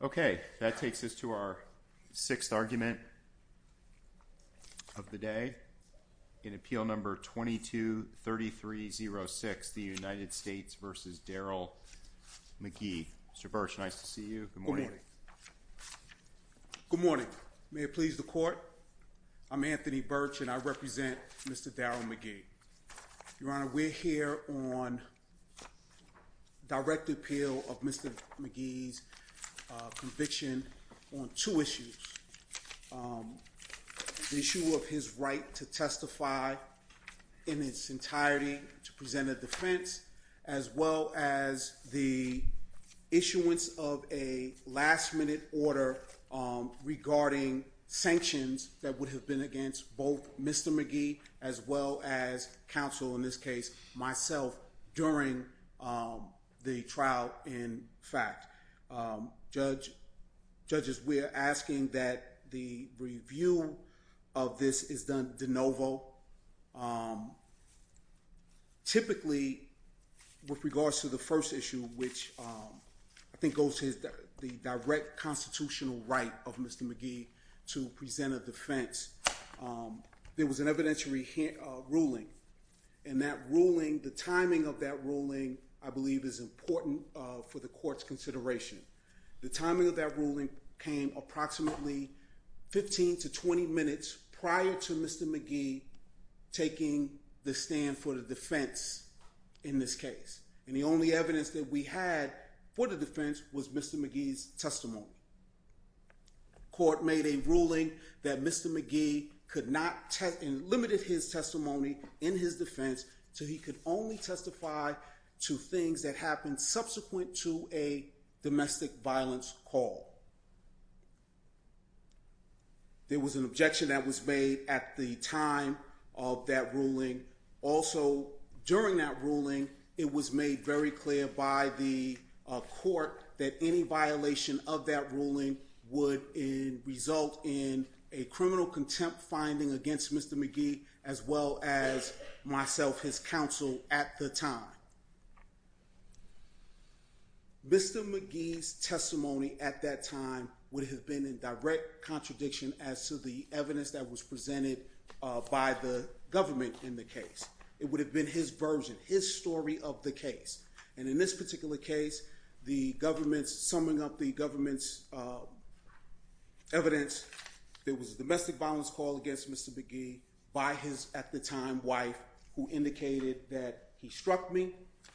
Okay, that takes us to our sixth argument of the day in appeal number 22-3306, the United States v. Daryl McGhee. Mr. Birch, nice to see you. Good morning. Good morning. May it please the Court, I'm Anthony Birch and I represent Mr. Daryl McGhee. Your Honor, we're here on direct appeal of Mr. McGhee's conviction on two issues. The issue of his right to testify in its entirety to present a defense as well as the issuance of a last minute order regarding sanctions that would have been against both Mr. McGhee as well as counsel, in this case myself, during the trial in fact. Judges, we are asking that the review of this is done de novo. Typically, with regards to the first issue, which I think goes to the direct constitutional right of Mr. McGhee to present a defense, there was an evidentiary ruling. And that ruling, the timing of that ruling, I believe is important for the Court's consideration. The timing of that ruling came approximately 15 to 20 minutes prior to Mr. McGhee taking the stand for the defense in this case. And the only evidence that we had for the defense was Mr. McGhee's testimony. The Court made a ruling that Mr. McGhee could not test—limited his testimony in his defense so he could only testify to things that happened subsequent to a domestic violence call. There was an objection that was made at the time of that ruling. Also, during that ruling, it was made very clear by the Court that any violation of that ruling would result in a criminal contempt finding against Mr. McGhee as well as myself, his counsel, at the time. Mr. McGhee's testimony at that time would have been in direct contradiction as to the evidence that was presented by the government in the case. It would have been his version, his story of the case. And in this particular case, the government's—summing up the government's evidence, there was a domestic violence call against Mr. McGhee by his, at the time, wife who indicated that he struck me,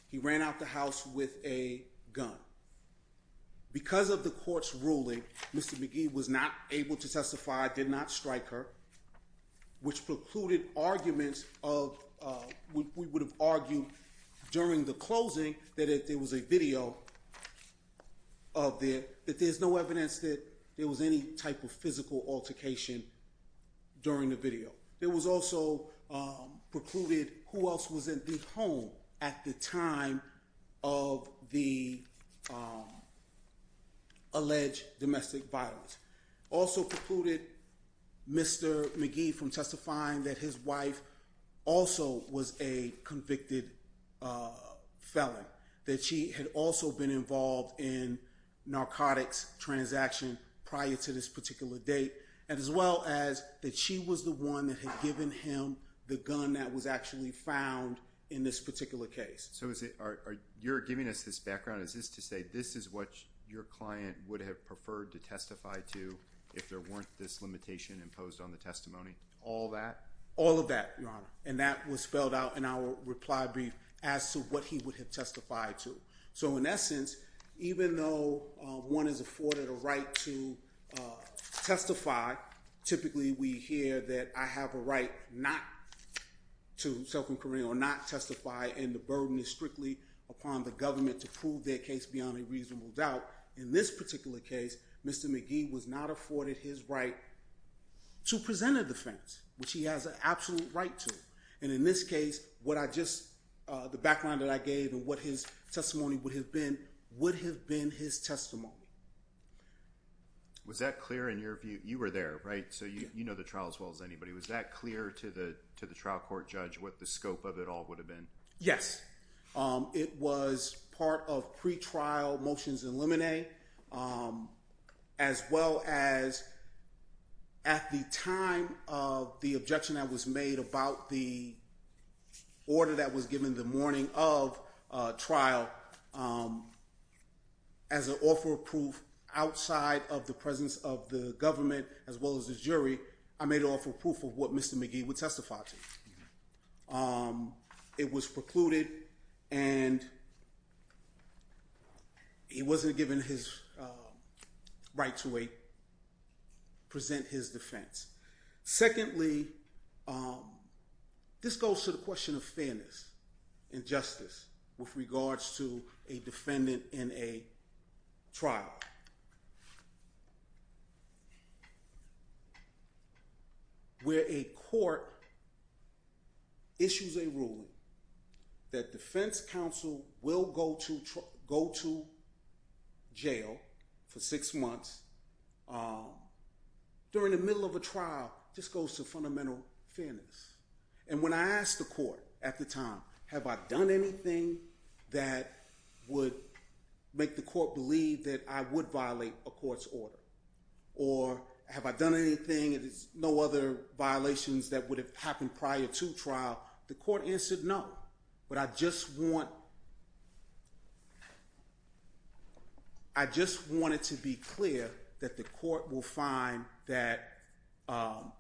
he ran out the house with a gun. Because of the Court's ruling, Mr. McGhee was not able to testify, did not strike her, which precluded arguments of—we would have argued during the closing that there was a video of the—that there's no evidence that there was any type of physical altercation during the video. There was also precluded who else was in the home at the time of the alleged domestic violence. Also precluded Mr. McGhee from testifying that his wife also was a convicted felon, that she had also been involved in narcotics transactions prior to this particular date, as well as that she was the one that had given him the gun that was actually found in this particular case. So is it—you're giving us this background. Is this to say this is what your client would have preferred to testify to if there weren't this limitation imposed on the testimony? All that? All of that, Your Honor. And that was spelled out in our reply brief as to what he would have testified to. So in essence, even though one is afforded a right to testify, typically we hear that I have a right not to self-incriminate or not testify and the burden is strictly upon the government to prove their case beyond a reasonable doubt. In this particular case, Mr. McGhee was not afforded his right to present a defense, which he has an absolute right to. And in this case, what I just—the background that I gave and what his testimony would have been would have been his testimony. Was that clear in your view? You were there, right? So you know the trial as well as anybody. Was that clear to the trial court judge what the scope of it all would have been? Yes. It was part of pretrial motions in limine, as well as at the time of the objection that was made about the order that was given the morning of trial, as an offer of proof outside of the presence of the government as well as the jury, I made an offer of proof of what Mr. McGhee would testify to. It was precluded and he wasn't given his right to present his defense. Secondly, this goes to the question of fairness and justice with regards to a defendant in a trial where a court issues a ruling that defense counsel will go to jail for six months during the middle of a trial just goes to fundamental fairness. And when I asked the court at the time, have I done anything that would make the court believe that I would violate a court's order? Or have I done anything, no other violations that would have happened prior to trial, the court answered no. But I just want it to be clear that the court will find that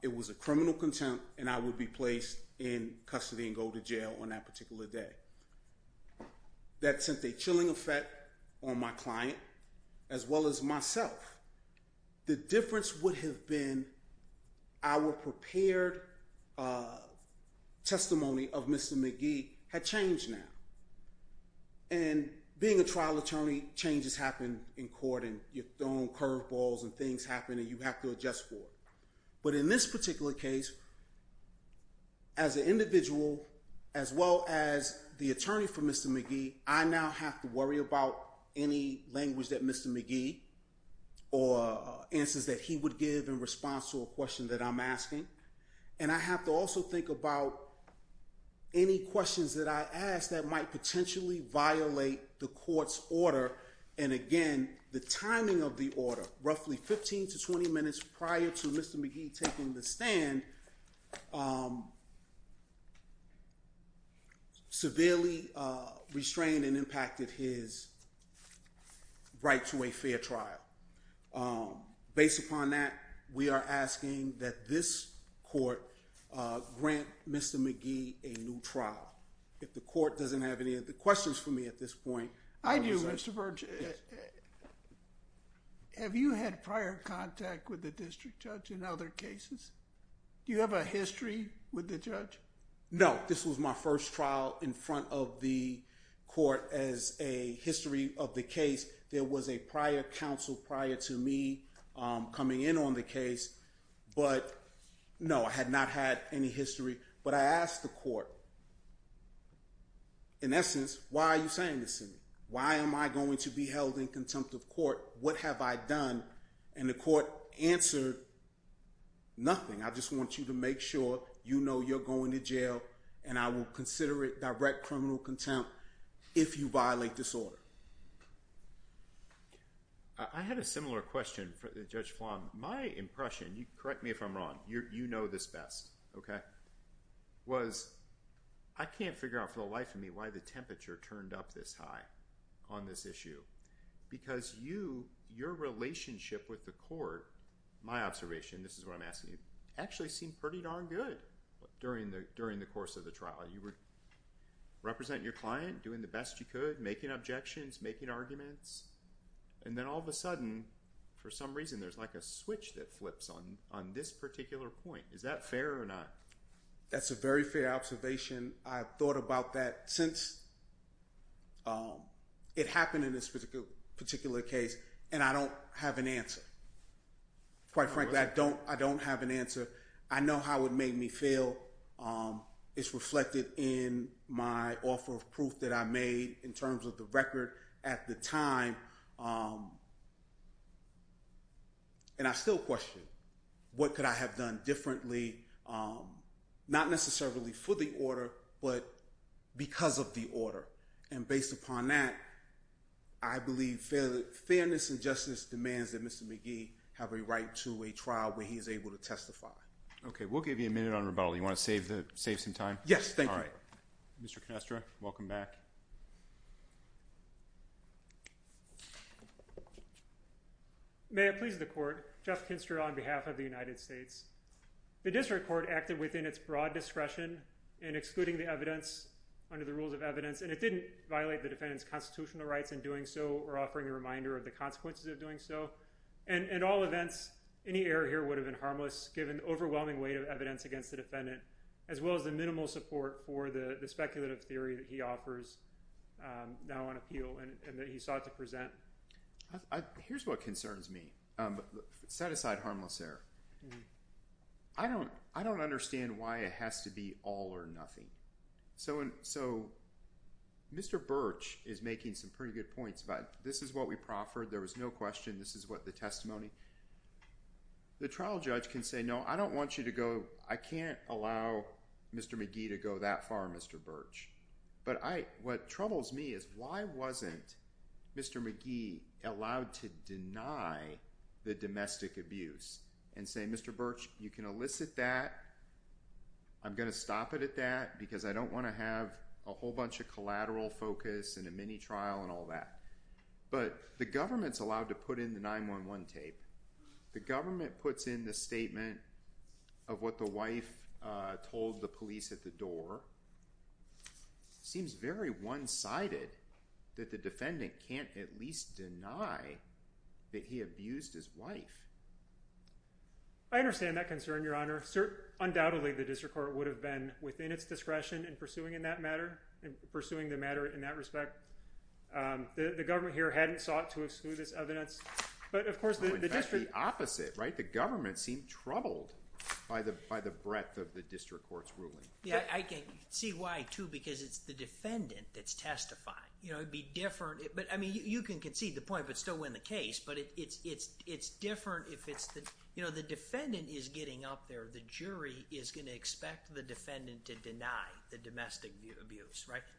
it was a criminal contempt and I would be placed in custody and go to jail on that particular day. That sent a chilling effect on my client as well as myself. The difference would have been our prepared testimony of Mr. McGhee had changed now. And being a trial attorney, changes happen in court and you're thrown curveballs and things happen and you have to adjust for it. But in this particular case, as an individual, as well as the attorney for Mr. McGhee, I now have to worry about any language that Mr. McGhee or answers that he would give in response to a question that I'm asking. And I have to also think about any questions that I ask that might potentially violate the court's order. And again, the timing of the order, roughly 15 to 20 minutes prior to Mr. McGhee taking the stand, severely restrained and impacted his right to a fair trial. Based upon that, we are asking that this court grant Mr. McGhee a new trial. If the court doesn't have any other questions for me at this point. I do, Mr. Burch. Have you had prior contact with the district judge in other cases? Do you have a history with the judge? No, this was my first trial in front of the court as a history of the case. There was a prior counsel prior to me coming in on the case. But no, I had not had any history. But I asked the court, in essence, why are you saying this to me? Why am I going to be held in contempt of court? What have I done? And the court answered, nothing. I just want you to make sure you know you're going to jail and I will consider it direct criminal contempt if you violate this order. I had a similar question for Judge Flom. My impression, correct me if I'm wrong, you know this best, okay, was I can't figure out for the life of me why the temperature turned up this high on this issue. Because you, your relationship with the court, my observation, this is what I'm asking you, actually seemed pretty darn good during the course of the trial. You were representing your client, doing the best you could, making objections, making arguments. And then all of a sudden, for some reason, there's like a switch that flips on this particular point. Is that fair or not? That's a very fair observation. I've thought about that since it happened in this particular case, and I don't have an answer. Quite frankly, I don't have an answer. I know how it made me feel. It's reflected in my offer of proof that I made in terms of the record at the time. And I still question what could I have done differently, not necessarily for the order, but because of the order. And based upon that, I believe fairness and justice demands that Mr. McGee have a right to a trial where he is able to testify. Okay, we'll give you a minute on rebuttal. You want to save some time? Yes, thank you. Mr. Canestra, welcome back. May it please the court, Jeff Canestra on behalf of the United States. The district court acted within its broad discretion in excluding the evidence under the rules of evidence, and it didn't violate the defendant's constitutional rights in doing so or offering a reminder of the consequences of doing so. In all events, any error here would have been harmless, given the overwhelming weight of evidence against the defendant, as well as the minimal support for the speculative theory that he offers now on appeal and that he sought to present. Here's what concerns me. Set aside harmless error. I don't understand why it has to be all or nothing. So Mr. Birch is making some pretty good points about this is what we proffered, there was no question, this is what the testimony – the trial judge can say, no, I don't want you to go – I can't allow Mr. McGee to go that far, Mr. Birch. But what troubles me is why wasn't Mr. McGee allowed to deny the domestic abuse and say, Mr. Birch, you can elicit that, I'm going to stop it at that because I don't want to have a whole bunch of collateral focus and a mini trial and all that. But the government's allowed to put in the 911 tape. The government puts in the statement of what the wife told the police at the door. It seems very one-sided that the defendant can't at least deny that he abused his wife. I understand that concern, Your Honor. Undoubtedly, the district court would have been within its discretion in pursuing in that matter, in pursuing the matter in that respect. The government here hadn't sought to exclude this evidence. But of course, the district – In fact, the opposite, right? The government seemed troubled by the breadth of the district court's ruling. Yeah, I can see why too because it's the defendant that's testifying. It would be different – I mean, you can concede the point but still win the case, but it's different if it's the –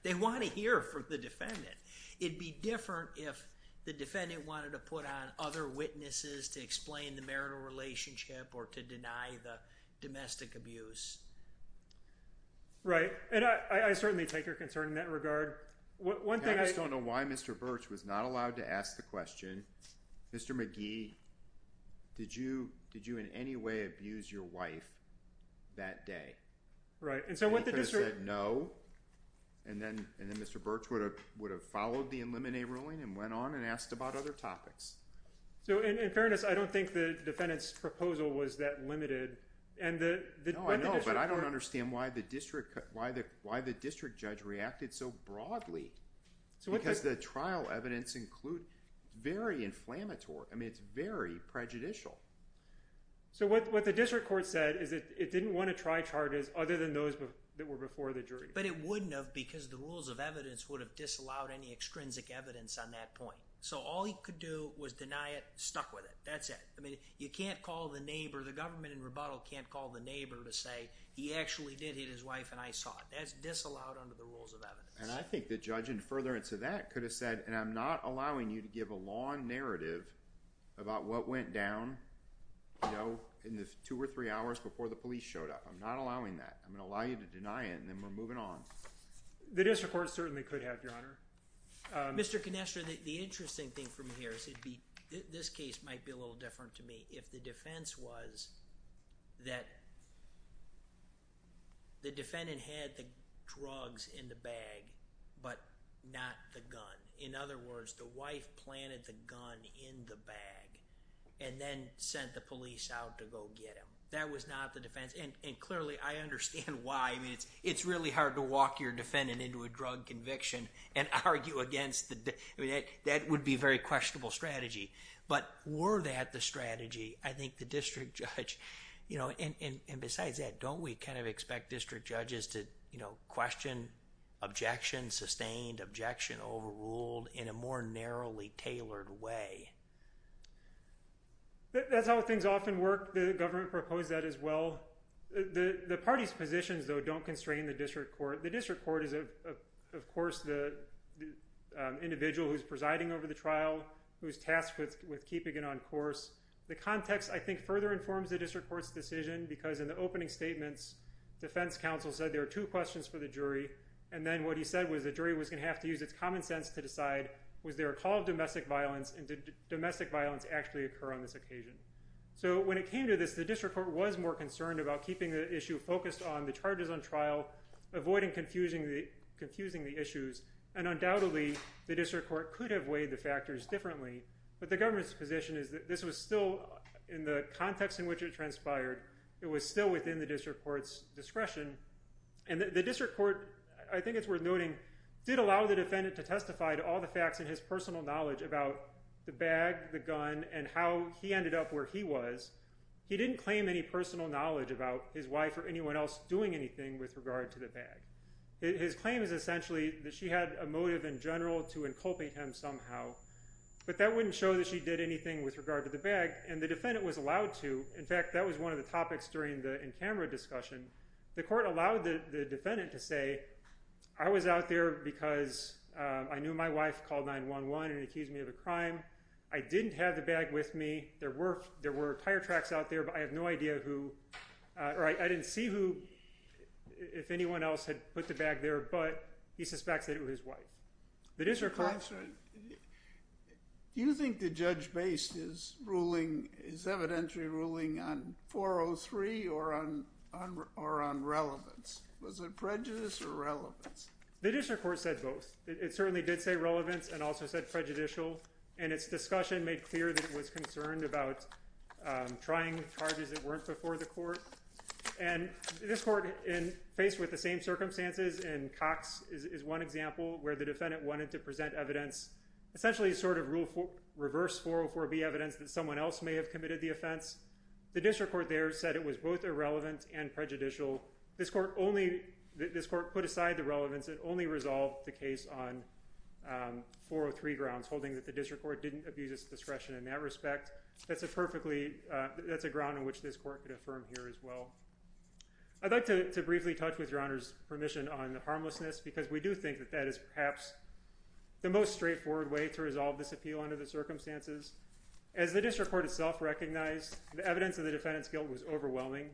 They want to hear from the defendant. It'd be different if the defendant wanted to put on other witnesses to explain the marital relationship or to deny the domestic abuse. Right, and I certainly take your concern in that regard. One thing I – I just don't know why Mr. Birch was not allowed to ask the question, Mr. McGee, did you in any way abuse your wife that day? Right, and so what the district – The defendant said no, and then Mr. Birch would have followed the eliminate ruling and went on and asked about other topics. So in fairness, I don't think the defendant's proposal was that limited and the – No, I know, but I don't understand why the district judge reacted so broadly because the trial evidence includes – it's very inflammatory. I mean, it's very prejudicial. So what the district court said is that it didn't want to try charges other than those that were before the jury. But it wouldn't have because the rules of evidence would have disallowed any extrinsic evidence on that point. So all he could do was deny it, stuck with it. That's it. I mean, you can't call the neighbor – the government in rebuttal can't call the neighbor to say he actually did hit his wife and I saw it. That's disallowed under the rules of evidence. And I think the judge in furtherance of that could have said, and I'm not allowing you to give a long narrative about what went down in the two or three hours before the police showed up. I'm not allowing that. I'm going to allow you to deny it and then we're moving on. The district court certainly could have, Your Honor. Mr. Canestra, the interesting thing for me here is it'd be – this case might be a little different to me if the defense was that the defendant had the drugs in the bag but not the gun. In other words, the wife planted the gun in the bag and then sent the police out to go get him. That was not the defense. And clearly, I understand why. I mean, it's really hard to walk your defendant into a drug conviction and argue against the – I mean, that would be a very questionable strategy. But were that the strategy, I think the district judge – and besides that, don't we kind of expect district judges to question, objection, sustained, objection, overruled in a more narrowly tailored way? That's how things often work. The government proposed that as well. The party's positions, though, don't constrain the district court. The district court is, of course, the individual who's presiding over the trial, who's tasked with keeping it on course. The context, I think, further informs the district court's decision because in the opening statements, defense counsel said there are two questions for the jury. And then what he said was the jury was going to have to use its common sense to decide was there a call of domestic violence and did domestic violence actually occur on this occasion. So when it came to this, the district court was more concerned about keeping the issue focused on the charges on trial, avoiding confusing the issues. And undoubtedly, the district court could have weighed the factors differently. But the government's position is that this was still – in the context in which it transpired, it was still within the district court's discretion. And the district court, I think it's worth noting, did allow the defendant to testify to all the facts in his personal knowledge about the bag, the gun, and how he ended up where he was. He didn't claim any personal knowledge about his wife or anyone else doing anything with regard to the bag. His claim is essentially that she had a motive in general to inculpate him somehow. But that wouldn't show that she did anything with regard to the bag, and the defendant was allowed to. In fact, that was one of the topics during the in-camera discussion. The court allowed the defendant to say, I was out there because I knew my wife called 911 and accused me of a crime. I didn't have the bag with me. There were tire tracks out there, but I have no idea who – or I didn't see who, if anyone else had put the bag there, but he suspects that it was his wife. Do you think the judge based his ruling, his evidentiary ruling, on 403 or on relevance? Was it prejudice or relevance? The district court said both. It certainly did say relevance and also said prejudicial, and its discussion made clear that it was concerned about trying charges that weren't before the court. This court, faced with the same circumstances in Cox, is one example where the defendant wanted to present evidence, essentially sort of reverse 404B evidence that someone else may have committed the offense. The district court there said it was both irrelevant and prejudicial. This court put aside the relevance and only resolved the case on 403 grounds, holding that the district court didn't abuse its discretion in that respect. That's a perfectly – that's a ground on which this court could affirm here as well. I'd like to briefly touch, with Your Honor's permission, on the harmlessness because we do think that that is perhaps the most straightforward way to resolve this appeal under the circumstances. As the district court itself recognized, the evidence of the defendant's guilt was overwhelming.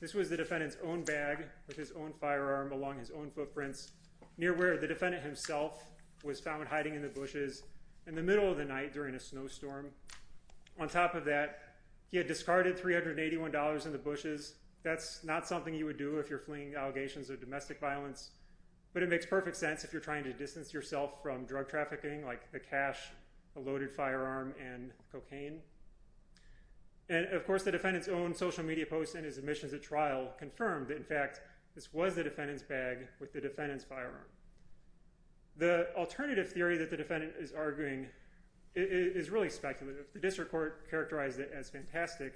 This was the defendant's own bag with his own firearm along his own footprints, near where the defendant himself was found hiding in the bushes in the middle of the night during a snowstorm. On top of that, he had discarded $381 in the bushes. That's not something you would do if you're fleeing allegations of domestic violence, but it makes perfect sense if you're trying to distance yourself from drug trafficking like the cash, a loaded firearm, and cocaine. And, of course, the defendant's own social media posts and his admissions at trial confirmed that, in fact, this was the defendant's bag with the defendant's firearm. The alternative theory that the defendant is arguing is really speculative. The district court characterized it as fantastic.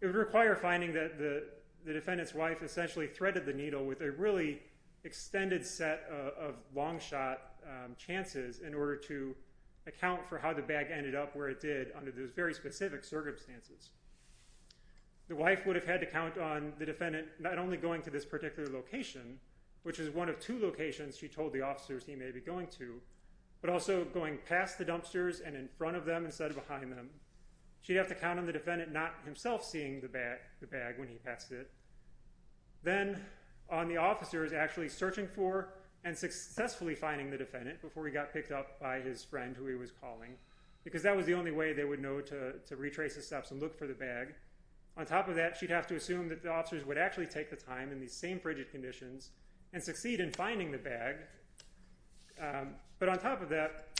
It would require finding that the defendant's wife essentially threaded the needle with a really extended set of long shot chances in order to account for how the bag ended up where it did under those very specific circumstances. The wife would have had to count on the defendant not only going to this particular location, which is one of two locations she told the officers he may be going to, but also going past the dumpsters and in front of them instead of behind them. She'd have to count on the defendant not himself seeing the bag when he passed it, then on the officers actually searching for and successfully finding the defendant before he got picked up by his friend who he was calling, because that was the only way they would know to retrace the steps and look for the bag. On top of that, she'd have to assume that the officers would actually take the time in these same frigid conditions and succeed in finding the bag. But on top of that,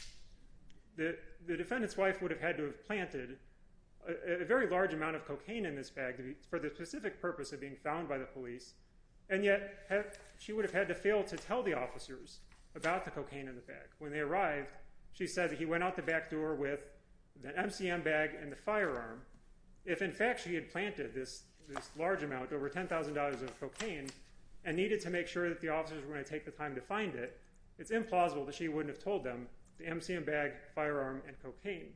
the defendant's wife would have had to have planted a very large amount of cocaine in this bag for the specific purpose of being found by the police, and yet she would have had to fail to tell the officers about the cocaine in the bag. When they arrived, she said that he went out the back door with the MCM bag and the firearm. If in fact she had planted this large amount, over $10,000 of cocaine, and needed to make sure that the officers were going to take the time to find it, it's implausible that she wouldn't have told them the MCM bag, firearm, and cocaine.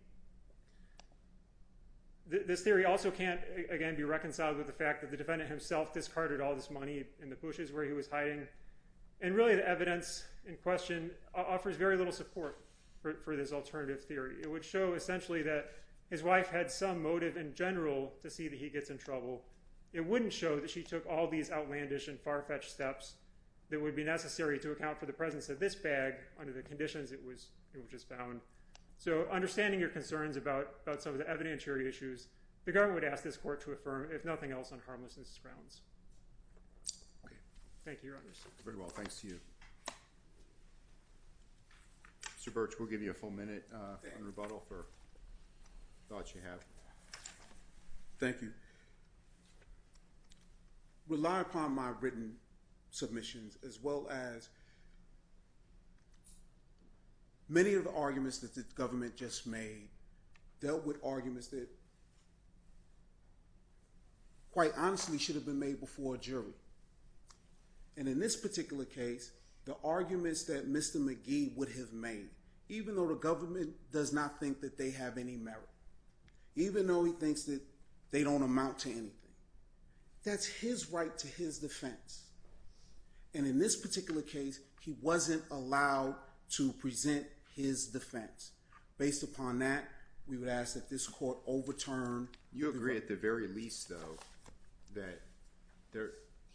This theory also can't, again, be reconciled with the fact that the defendant himself discarded all this money in the bushes where he was hiding, and really the evidence in question offers very little support for this alternative theory. It would show essentially that his wife had some motive in general to see that he gets in trouble. It wouldn't show that she took all these outlandish and far-fetched steps that would be necessary to account for the presence of this bag under the conditions it was just found. So understanding your concerns about some of the evidentiary issues, the government would ask this court to affirm, if nothing else, on harmless grounds. Thank you, Your Honors. Very well. Thanks to you. Mr. Birch, we'll give you a full minute in rebuttal for thoughts you have. Thank you. I rely upon my written submissions as well as many of the arguments that the government just made, dealt with arguments that quite honestly should have been made before a jury. And in this particular case, the arguments that Mr. McGee would have made, even though the government does not think that they have any merit, even though he thinks that they don't amount to anything, that's his right to his defense. And in this particular case, he wasn't allowed to present his defense. Based upon that, we would ask that this court overturn. You agree at the very least, though, that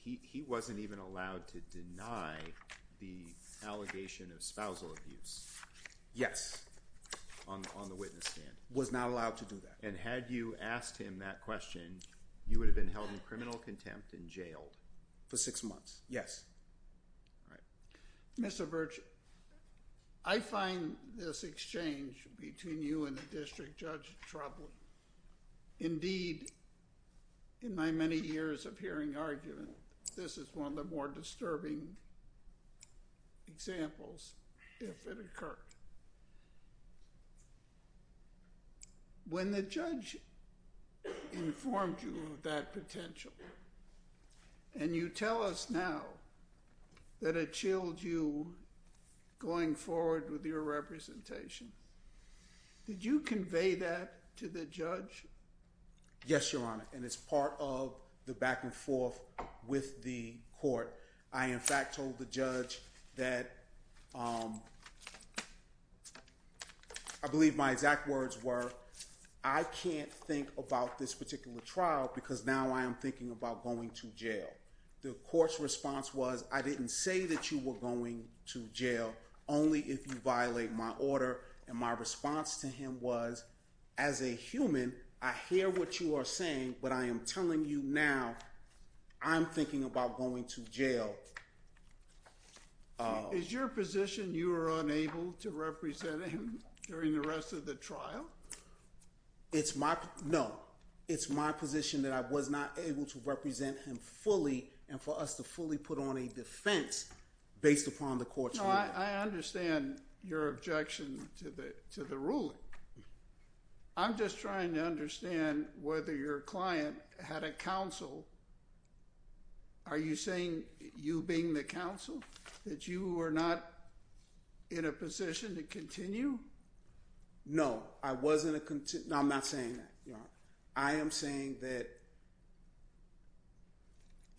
he wasn't even allowed to deny the allegation of spousal abuse. Yes. On the witness stand. Was not allowed to do that. And had you asked him that question, you would have been held in criminal contempt and jailed. For six months. Yes. All right. Mr. Birch, I find this exchange between you and the district judge troubling. Indeed, in my many years of hearing argument, this is one of the more disturbing examples, if it occurred. When the judge informed you of that potential, and you tell us now that it chilled you going forward with your representation, did you convey that to the judge? Yes, Your Honor. And it's part of the back and forth with the court. I, in fact, told the judge that, I believe my exact words were, I can't think about this particular trial because now I am thinking about going to jail. The court's response was, I didn't say that you were going to jail only if you violate my order. And my response to him was, as a human, I hear what you are saying, but I am telling you now, I'm thinking about going to jail. Is your position you are unable to represent him during the rest of the trial? It's my, no. It's my position that I was not able to represent him fully and for us to fully put on a defense based upon the court's ruling. I understand your objection to the ruling. I'm just trying to understand whether your client had a counsel. Are you saying, you being the counsel, that you were not in a position to continue? No, I wasn't a, no, I'm not saying that, Your Honor. I am saying that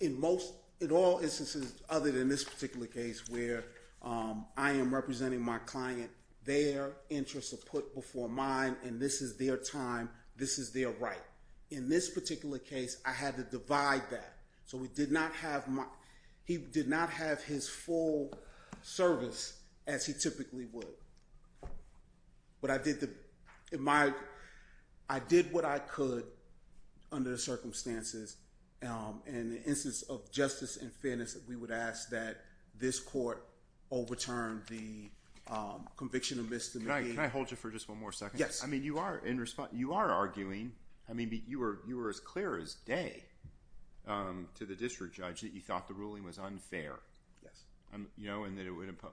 in most, in all instances other than this particular case where I am representing my client, their interests are put before mine and this is their time, this is their right. In this particular case, I had to divide that. So we did not have my, he did not have his full service as he typically would. But I did the, in my, I did what I could under the circumstances. In the instance of justice and fairness, we would ask that this court overturn the conviction of misdemeanor. Can I hold you for just one more second? Yes. I mean, you are in response, you are arguing, I mean, you were as clear as day to the district judge that you thought the ruling was unfair. Yes. You know, and that it would impose,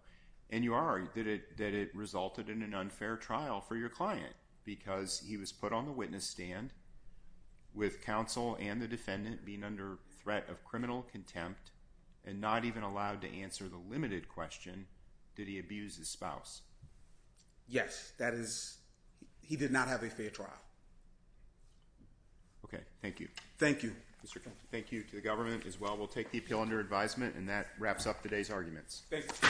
and you are, that it resulted in an unfair trial for your client because he was put on the witness stand with counsel and the defendant being under threat of criminal contempt and not even allowed to answer the limited question, did he abuse his spouse? Yes. That is, he did not have a fair trial. Okay. Thank you. Thank you. Thank you to the government as well. We'll take the appeal under advisement, and that wraps up today's arguments. Thank you.